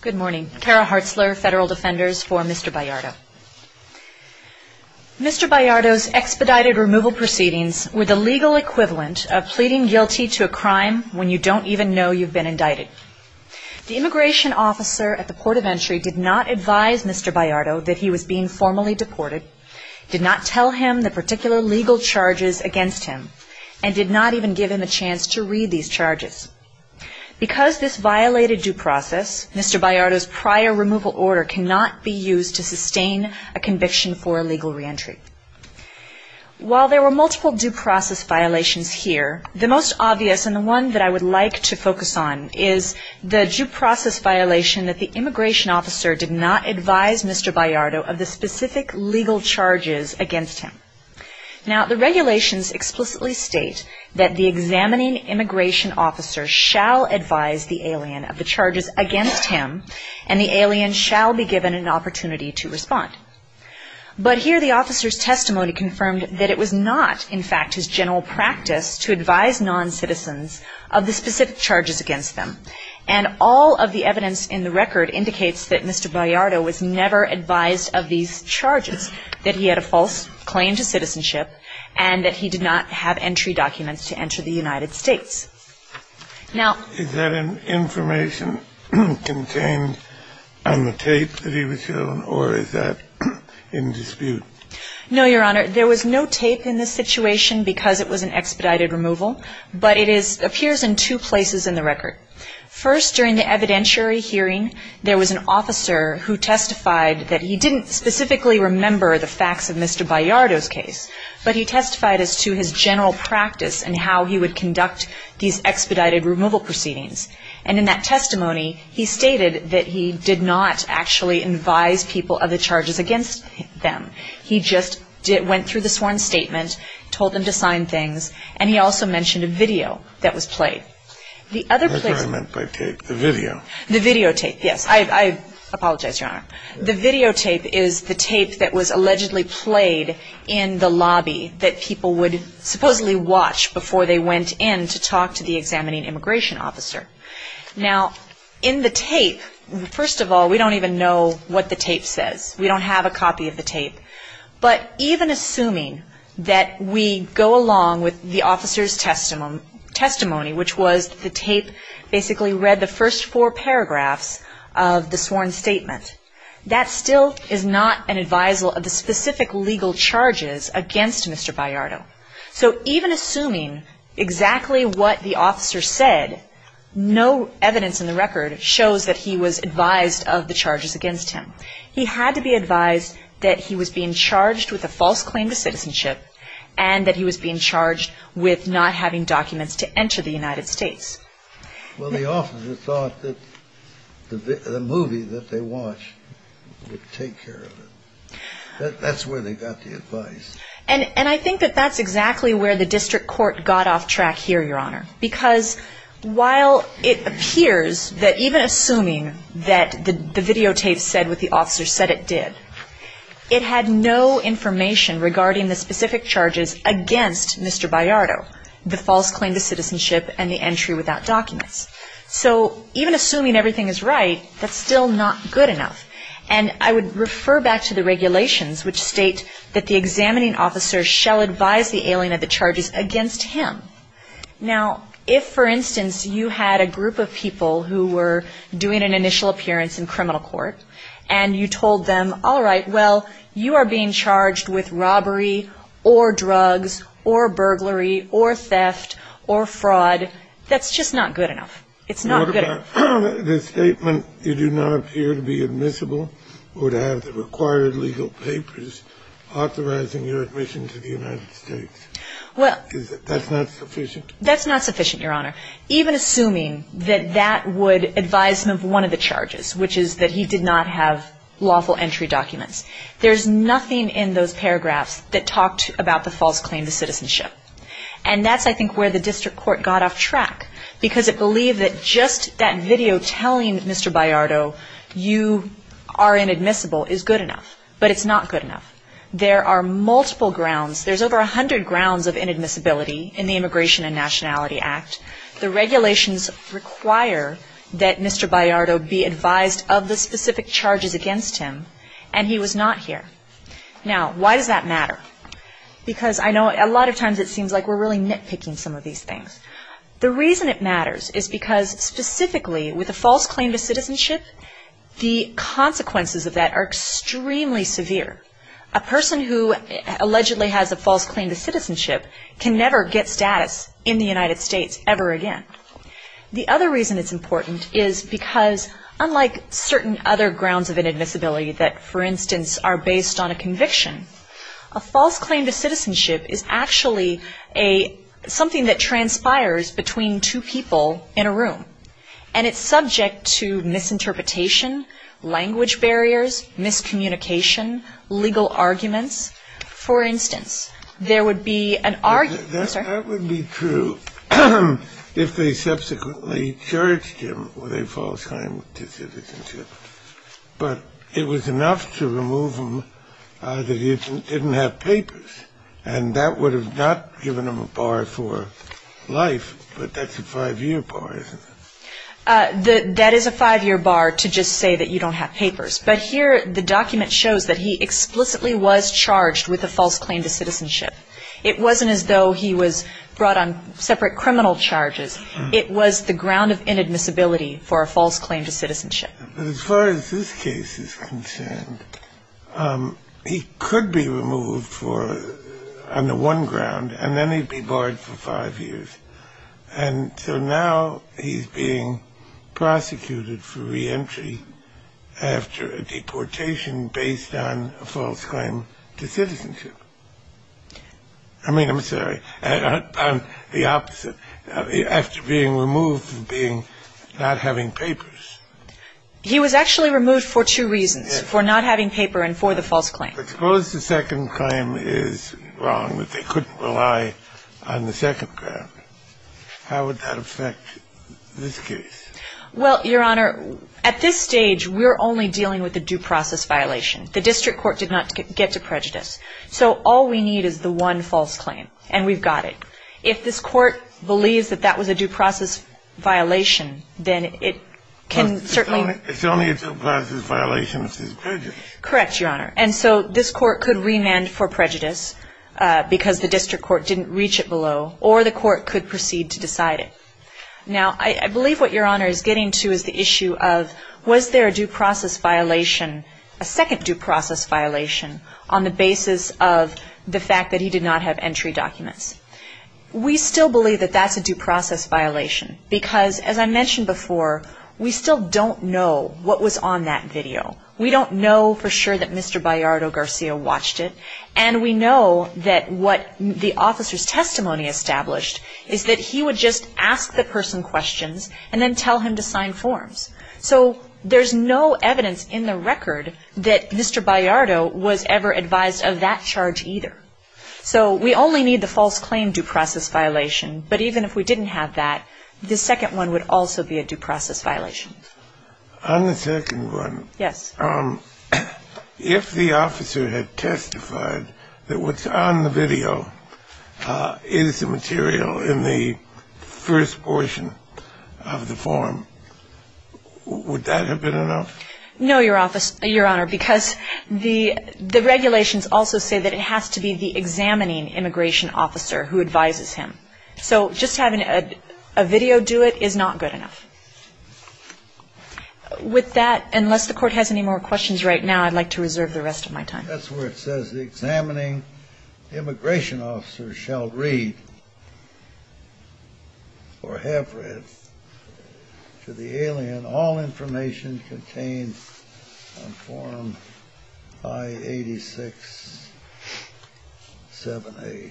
Good morning. Kara Hartzler, Federal Defenders for Mr. Bayardo. Mr. Bayardo's expedited removal proceedings were the legal equivalent of pleading guilty to a crime when you don't even know you've been indicted. The immigration officer at the port of entry did not advise Mr. Bayardo that he was being formally deported, did not tell him the particular legal charges against him, and did not even give him a chance to read these charges. Because this violated due process, Mr. Bayardo's prior removal order cannot be used to sustain a conviction for illegal reentry. While there were multiple due process violations here, the most obvious, and the one that I would like to focus on, is the due process violation that the immigration officer did not advise Mr. Bayardo of the specific legal charges against him. Now, the regulations explicitly state that the examining immigration officer shall advise the alien of the charges against him and the alien shall be given an opportunity to respond. But here the officer's testimony confirmed that it was not, in fact, his general practice to advise non-citizens of the specific charges against them. And all of the evidence in the record indicates that Mr. Bayardo was never advised of these charges, that he had a false claim to citizenship, and that he did not have entry documents to enter the United States. Now ---- Is that information contained on the tape that he was shown, or is that in dispute? No, Your Honor. There was no tape in this situation because it was an expedited removal, but it is ---- appears in two places in the record. First, during the evidentiary hearing, there was an officer who testified that he didn't specifically remember the facts of Mr. Bayardo's case, but he testified as to his general practice and how he would conduct these expedited removal proceedings. And in that testimony, he stated that he did not actually advise people of the charges against them. He just went through the sworn statement, told them to sign things, and he also mentioned a video that was played. The other place ---- That's what I meant by tape, the video. The videotape, yes. I apologize, Your Honor. The videotape is the tape that was allegedly played in the lobby that people would supposedly watch before they went in to talk to the examining immigration officer. Now, in the tape, first of all, we don't even know what the tape says. We don't have a copy of the tape. But even assuming that we go along with the officer's testimony, which was the tape basically read the first four paragraphs of the sworn statement, that still is not an advisal of the specific legal charges against Mr. Bayardo. So even assuming exactly what the officer said, no evidence in the record shows that he was advised of the charges against him. He had to be advised that he was being charged with a false claim to citizenship and that he was being charged with not having documents to enter the United States. Well, the officer thought that the movie that they watched would take care of it. That's where they got the advice. And I think that that's exactly where the district court got off track here, Your Honor. Because while it appears that even assuming that the videotape said what the officer said it did, it had no information regarding the specific charges against Mr. Bayardo, the false claim to citizenship and the entry without documents. So even assuming everything is right, that's still not good enough. And I would refer back to the regulations, which state that the examining officer shall advise the alien of the charges against him. Now, if, for instance, you had a group of people who were doing an initial appearance in criminal court, and you told them, all right, well, you are being charged with robbery or drugs or burglary or theft or fraud, that's just not good enough. It's not good enough. What about the statement, you do not appear to be admissible or to have the required legal papers authorizing your admission to the United States? Is that not sufficient? That's not sufficient, Your Honor. Even assuming that that would advise him of one of the charges, which is that he did not have lawful entry documents, there's nothing in those paragraphs that talked about the false claim to citizenship. And that's, I think, where the district court got off track, because it believed that just that video telling Mr. Bayardo you are inadmissible is good enough, but it's not good enough. There are multiple grounds. There's over 100 grounds of inadmissibility in the Immigration and Nationality Act. The regulations require that Mr. Bayardo be advised of the specific charges against him, and he was not here. Now, why does that matter? Because I know a lot of times it seems like we're really nitpicking some of these things. The reason it matters is because specifically with a false claim to citizenship, the consequences of that are extremely severe. A person who allegedly has a false claim to citizenship can never get status in the United States ever again. The other reason it's important is because unlike certain other grounds of inadmissibility that, for instance, are based on a conviction, a false claim to citizenship is actually something that transpires between two people in a room, and it's subject to misinterpretation, language barriers, miscommunication, legal arguments. For instance, there would be an argument, sir? That would be true if they subsequently charged him with a false claim to citizenship, but it was enough to remove him that he didn't have papers, and that would have not given him a bar for life, but that's a five-year bar, isn't it? That is a five-year bar to just say that you don't have papers, but here the document shows that he explicitly was charged with a false claim to citizenship. It wasn't as though he was brought on separate criminal charges. It was the ground of inadmissibility for a false claim to citizenship. As far as this case is concerned, he could be removed on the one ground, and then he'd be barred for five years, and so now he's being prosecuted for reentry after a deportation based on a false claim to citizenship. I mean, I'm sorry, the opposite, after being removed from being not having papers. He was actually removed for two reasons, for not having paper and for the false claim. But suppose the second claim is wrong, that they couldn't rely on the second ground. How would that affect this case? Well, Your Honor, at this stage, we're only dealing with a due process violation. The district court did not get to prejudice. So all we need is the one false claim, and we've got it. If this court believes that that was a due process violation, then it can certainly be. It's only a due process violation if it's prejudice. Correct, Your Honor. And so this court could remand for prejudice because the district court didn't reach it below, or the court could proceed to decide it. Now, I believe what Your Honor is getting to is the issue of was there a due process violation, a second due process violation on the basis of the fact that he did not have entry documents. We still believe that that's a due process violation because, as I mentioned before, we still don't know what was on that video. We don't know for sure that Mr. Bayardo-Garcia watched it, and we know that what the officer's testimony established is that he would just ask the person questions and then tell him to sign forms. So there's no evidence in the record that Mr. Bayardo was ever advised of that charge either. So we only need the false claim due process violation, but even if we didn't have that, the second one would also be a due process violation. On the second one. Yes. If the officer had testified that what's on the video is the material in the first portion of the form, would that have been enough? No, Your Honor, because the regulations also say that it has to be the examining immigration officer who advises him. So just having a video do it is not good enough. With that, unless the Court has any more questions right now, I'd like to reserve the rest of my time. That's where it says the examining immigration officer shall read or have read to the alien all information contained on form I-86-7A.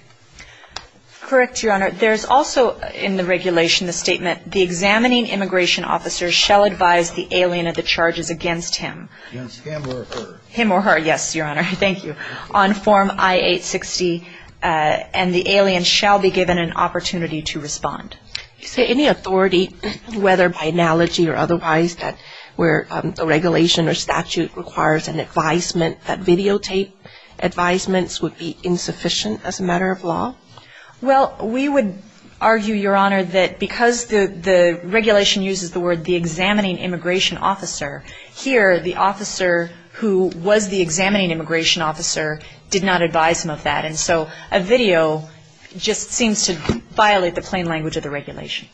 Correct, Your Honor. There's also in the regulation the statement, the examining immigration officer shall advise the alien of the charges against him. Against him or her. Him or her. Yes, Your Honor. Thank you. On form I-860, and the alien shall be given an opportunity to respond. Is there any authority, whether by analogy or otherwise, that where the regulation or statute requires an advisement that videotape advisements would be insufficient as a matter of law? Well, we would argue, Your Honor, that because the regulation uses the word the examining immigration officer, here the officer who was the examining immigration officer did not advise him of that. And so a video just seems to violate the plain language of the regulation.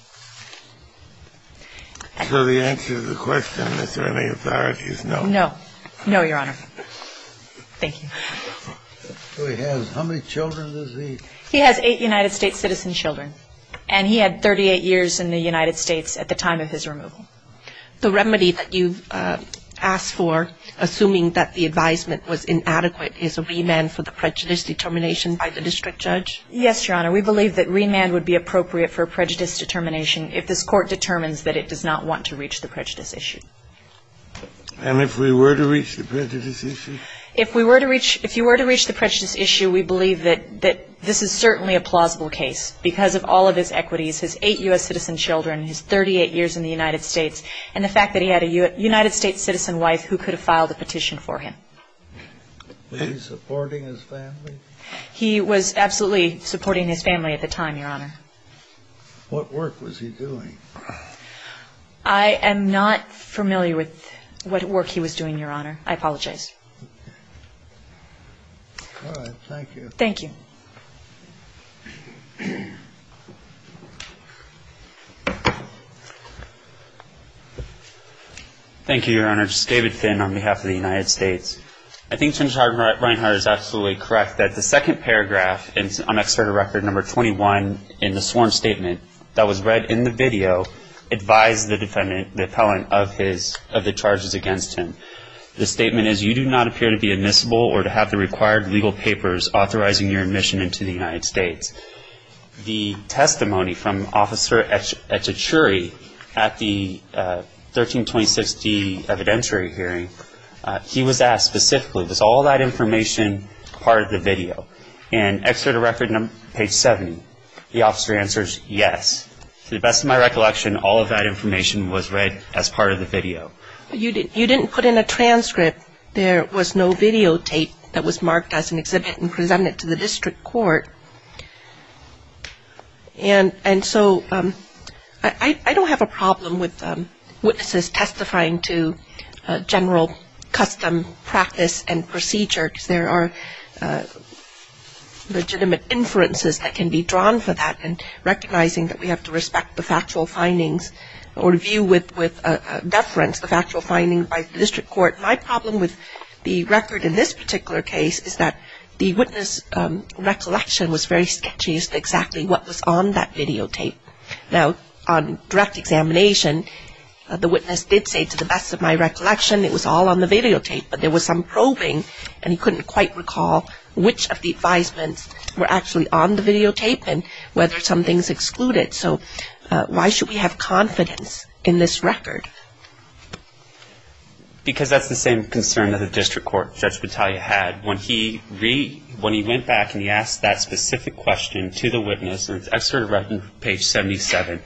So the answer to the question, is there any authority, is no. No. No, Your Honor. Thank you. So he has how many children does he? He has eight United States citizen children. And he had 38 years in the United States at the time of his removal. The remedy that you've asked for, assuming that the advisement was inadequate, is a remand for the prejudice determination by the district judge? Yes, Your Honor. We believe that remand would be appropriate for prejudice determination if this Court determines that it does not want to reach the prejudice issue. And if we were to reach the prejudice issue? If you were to reach the prejudice issue, we believe that this is certainly a plausible case because of all of his equities, his eight U.S. citizen children, his 38 years in the United States, and the fact that he had a United States citizen wife who could have filed a petition for him. Was he supporting his family? He was absolutely supporting his family at the time, Your Honor. What work was he doing? I am not familiar with what work he was doing, Your Honor. I apologize. All right, thank you. Thank you. Thank you, Your Honor. This is David Finn on behalf of the United States. I think Senator Reinhart is absolutely correct that the second paragraph on Excerpt of Record No. 21 in the sworn statement that was read in the video advised the defendant, the appellant, of the charges against him. The statement is, You do not appear to be admissible or to have the required legal papers authorizing your admission into the United States. The testimony from Officer Echichuri at the 1326D evidentiary hearing, he was asked specifically, was all that information part of the video? And Excerpt of Record Page 70, the officer answers, yes. To the best of my recollection, all of that information was read as part of the video. You didn't put in a transcript. There was no videotape that was marked as an exhibit and presented to the district court. And so I don't have a problem with witnesses testifying to general custom practice and procedure because there are legitimate inferences that can be drawn for that and recognizing that we have to respect the factual findings or view with deference the factual findings by the district court. My problem with the record in this particular case is that the witness recollection was very sketchy as to exactly what was on that videotape. Now, on direct examination, the witness did say, to the best of my recollection, it was all on the videotape, but there was some probing and he couldn't quite recall which of the advisements were actually on the videotape and whether something's excluded. So why should we have confidence in this record? Because that's the same concern that the district court, Judge Battaglia, had. When he went back and he asked that specific question to the witness, and it's Excerpt of Record Page 77,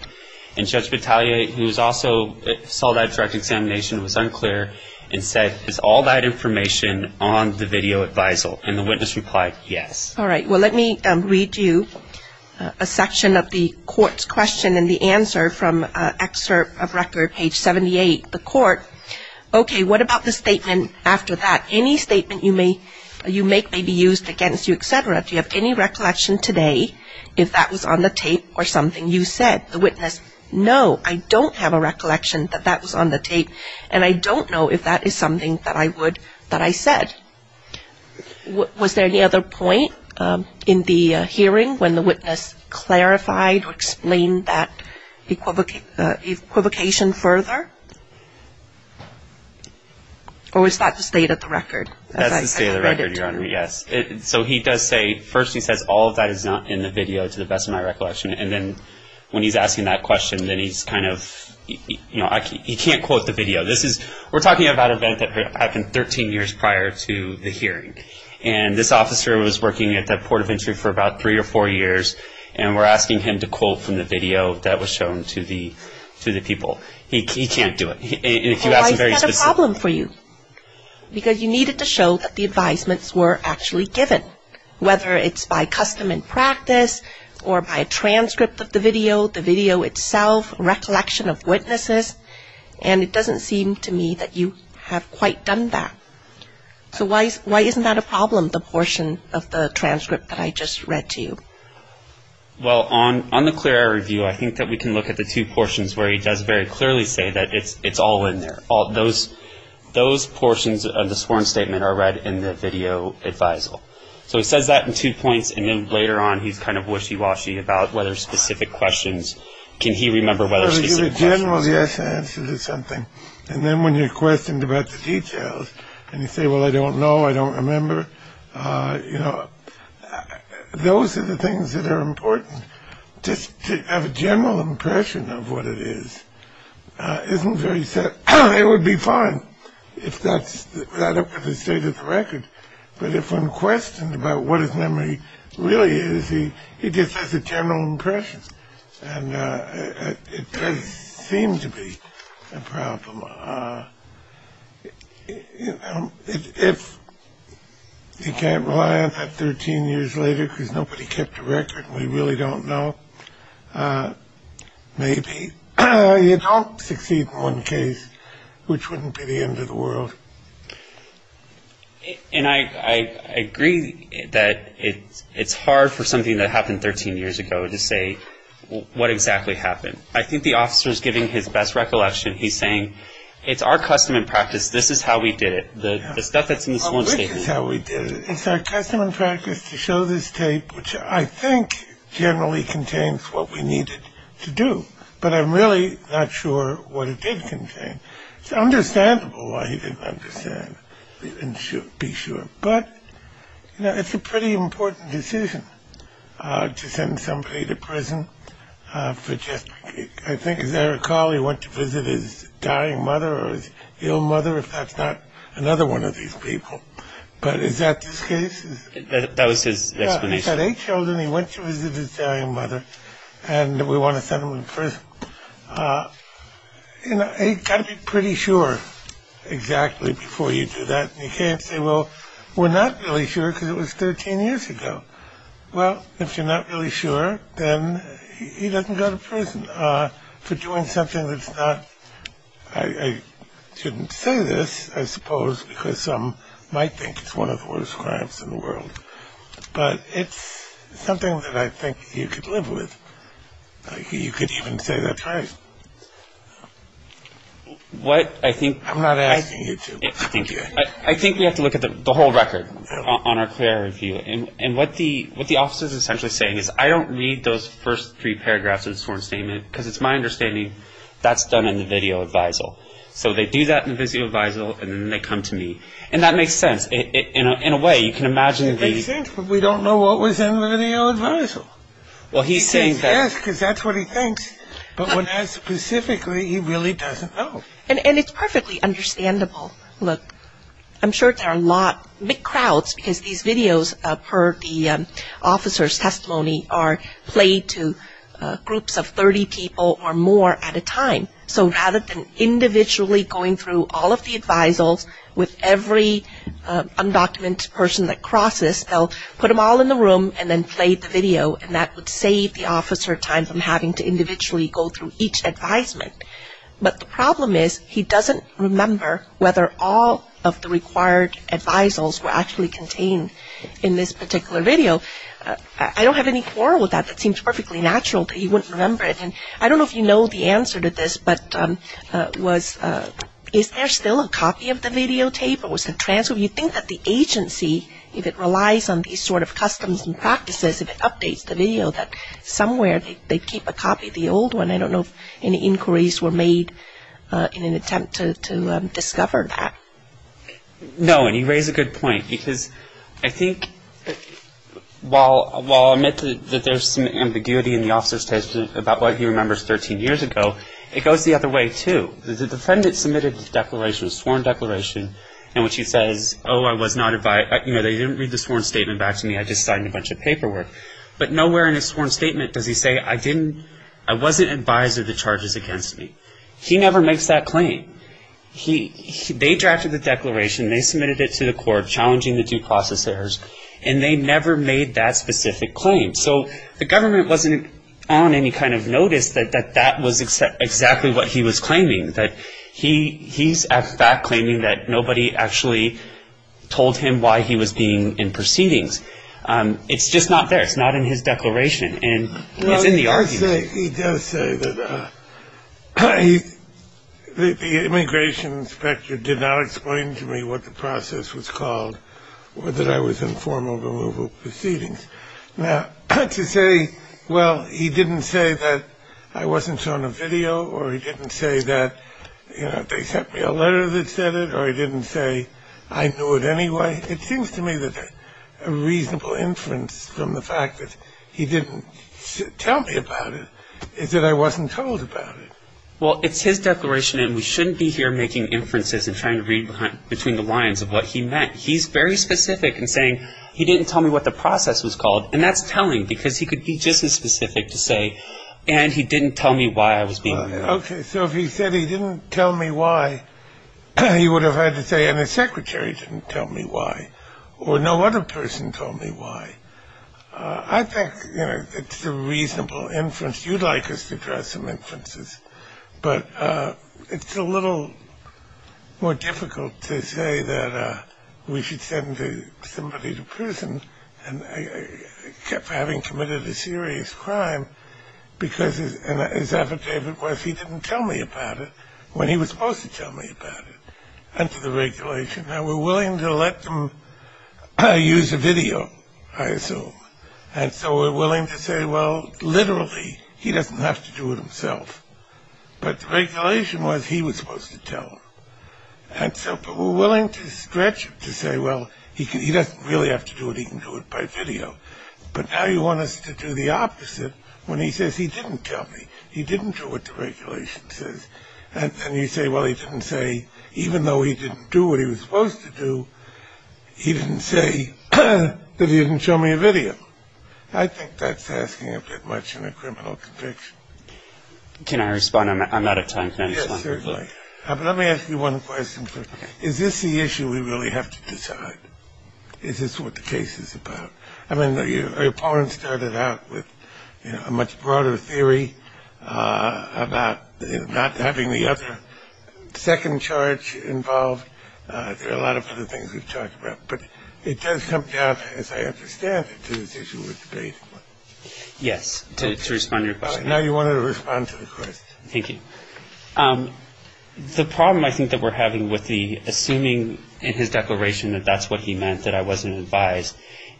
and Judge Battaglia, who also saw that direct examination, was unclear and said, is all that information on the video advisal? And the witness replied, yes. All right, well, let me read you a section of the court's question and the answer from Excerpt of Record Page 78. The court, okay, what about the statement after that? Any statement you make may be used against you, et cetera. Do you have any recollection today if that was on the tape or something you said? The witness, no, I don't have a recollection that that was on the tape, and I don't know if that is something that I said. Was there any other point in the hearing when the witness clarified or explained that equivocation further? Or was that the state of the record? That's the state of the record, Your Honor, yes. So he does say, first he says, all of that is not in the video, to the best of my recollection, and then when he's asking that question, then he's kind of, you know, he can't quote the video. This is, we're talking about an event that happened 13 years prior to the hearing, and this officer was working at that port of entry for about three or four years, and we're asking him to quote from the video that was shown to the people. He can't do it. Well, I've got a problem for you, because you needed to show that the advisements were actually given, whether it's by custom and practice or by a transcript of the video, the video itself, and it doesn't seem to me that you have quite done that. So why isn't that a problem, the portion of the transcript that I just read to you? Well, on the clear air review, I think that we can look at the two portions where he does very clearly say that it's all in there. Those portions of the sworn statement are read in the video advisal. So he says that in two points, and then later on he's kind of wishy-washy about whether specific questions, can he remember whether specific questions. Generally, yes, answer to something, and then when you're questioned about the details, and you say, well, I don't know, I don't remember, you know, those are the things that are important. Just to have a general impression of what it is isn't very set. It would be fine if that's the state of the record, but if I'm questioned about what his memory really is, he just has a general impression, and it does seem to be a problem. If you can't rely on that 13 years later because nobody kept a record and we really don't know, maybe you don't succeed in one case, which wouldn't be the end of the world. And I agree that it's hard for something that happened 13 years ago to say what exactly happened. I think the officer is giving his best recollection. He's saying it's our custom and practice. This is how we did it. The stuff that's in the sworn statement. This is how we did it. It's our custom and practice to show this tape, which I think generally contains what we needed to do, but I'm really not sure what it did contain. It's understandable why he didn't understand and be sure, but it's a pretty important decision to send somebody to prison for just, I think, as I recall, he went to visit his dying mother or his ill mother, if that's not another one of these people. But is that this case? That was his explanation. He's had eight children. He went to visit his dying mother, and we want to send him to prison. You know, you've got to be pretty sure exactly before you do that. And you can't say, well, we're not really sure because it was 13 years ago. Well, if you're not really sure, then he doesn't go to prison for doing something that's not. I shouldn't say this, I suppose, because some might think it's one of the worst crimes in the world. But it's something that I think you could live with. You could even say that's right. What I think. I'm not asking you to. Thank you. I think we have to look at the whole record on our clear review. And what the officer is essentially saying is I don't read those first three paragraphs of the sworn statement because it's my understanding that's done in the video advisal. So they do that in the video advisal, and then they come to me. And that makes sense. In a way, you can imagine the. It makes sense, but we don't know what was in the video advisal. Well, he's saying that. Yes, because that's what he thinks. But when asked specifically, he really doesn't know. And it's perfectly understandable. Look, I'm sure there are a lot, big crowds, because these videos per the officer's testimony are played to groups of 30 people or more at a time. So rather than individually going through all of the advisals with every undocumented person that crosses, they'll put them all in the room and then play the video, and that would save the officer time from having to individually go through each advisement. But the problem is he doesn't remember whether all of the required advisals were actually contained in this particular video. I don't have any quarrel with that. That seems perfectly natural that he wouldn't remember it. And I don't know if you know the answer to this, but is there still a copy of the videotape? Do you think that the agency, if it relies on these sort of customs and practices, if it updates the video, that somewhere they keep a copy of the old one? I don't know if any inquiries were made in an attempt to discover that. No, and you raise a good point, because I think while I'll admit that there's some ambiguity in the officer's testimony about what he remembers 13 years ago, it goes the other way, too. The defendant submitted a sworn declaration in which he says, oh, they didn't read the sworn statement back to me, I just signed a bunch of paperwork. But nowhere in his sworn statement does he say, I wasn't advised of the charges against me. He never makes that claim. They drafted the declaration, they submitted it to the court, challenging the due process errors, and they never made that specific claim. So the government wasn't on any kind of notice that that was exactly what he was claiming, that he's, in fact, claiming that nobody actually told him why he was being in proceedings. It's just not there. It's not in his declaration, and it's in the argument. He does say that the immigration inspector did not explain to me what the process was called, or that I was in formal removal proceedings. Now, to say, well, he didn't say that I wasn't shown a video, or he didn't say that they sent me a letter that said it, or he didn't say I knew it anyway, it seems to me that a reasonable inference from the fact that he didn't tell me about it is that I wasn't told about it. Well, it's his declaration, and we shouldn't be here making inferences and trying to read between the lines of what he meant. He's very specific in saying he didn't tell me what the process was called, and that's telling, because he could be just as specific to say, and he didn't tell me why I was being removed. Okay. So if he said he didn't tell me why, he would have had to say, and his secretary didn't tell me why, or no other person told me why. I think, you know, it's a reasonable inference. You'd like us to draw some inferences. But it's a little more difficult to say that we should send somebody to prison for having committed a serious crime because his affidavit was he didn't tell me about it when he was supposed to tell me about it under the regulation. Now, we're willing to let them use a video, I assume, and so we're willing to say, well, literally, he doesn't have to do it himself. But the regulation was he was supposed to tell him. And so we're willing to stretch it to say, well, he doesn't really have to do it. He can do it by video. But now you want us to do the opposite when he says he didn't tell me. He didn't do what the regulation says. And you say, well, he didn't say, even though he didn't do what he was supposed to do, he didn't say that he didn't show me a video. I think that's asking a bit much in a criminal conviction. Can I respond? I'm out of time. Yes, certainly. But let me ask you one question. Is this the issue we really have to decide? Is this what the case is about? I mean, your opponent started out with a much broader theory about not having the other second charge involved. There are a lot of other things we've talked about. But it does come down, as I understand it, to this issue of debate. Yes. To respond to your question. Now you want to respond to the question. Thank you. The problem I think that we're having with the assuming in his declaration that that's what he meant, that I wasn't advised,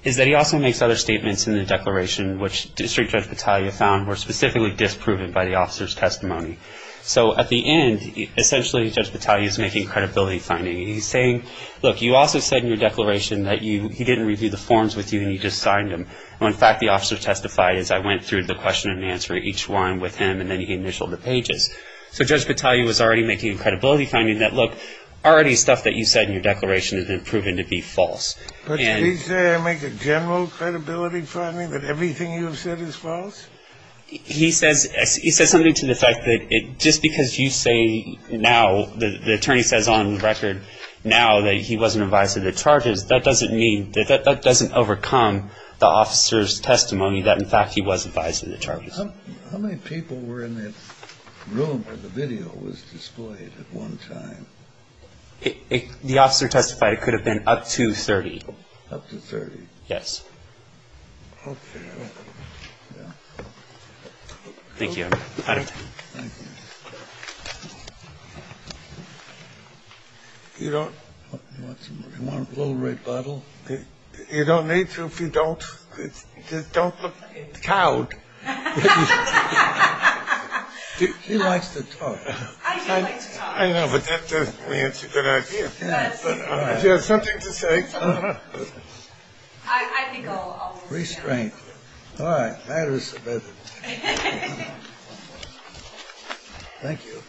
is that he also makes other statements in the declaration, which District Judge Battaglia found were specifically disproven by the officer's testimony. So at the end, essentially, Judge Battaglia is making credibility finding. He's saying, look, you also said in your declaration that he didn't review the forms with you and you just signed them. In fact, the officer testified as I went through the question and answer each one with him, and then he initialed the pages. So Judge Battaglia was already making credibility finding that, look, already stuff that you said in your declaration has been proven to be false. But did he say I make a general credibility finding that everything you have said is false? He says something to the effect that just because you say now, the attorney says on record now, that he wasn't advised of the charges, that doesn't mean, that that doesn't overcome the officer's testimony that, in fact, he was advised of the charges. How many people were in the room where the video was displayed at one time? The officer testified it could have been up to 30. Up to 30? Yes. Okay. Thank you, Your Honor. Thank you. You don't need to if you don't. Just don't look cowed. He likes to talk. I do like to talk. I know, but that doesn't mean it's a good idea. She has something to say. I think I'll restrain. All right. That is better. Thank you.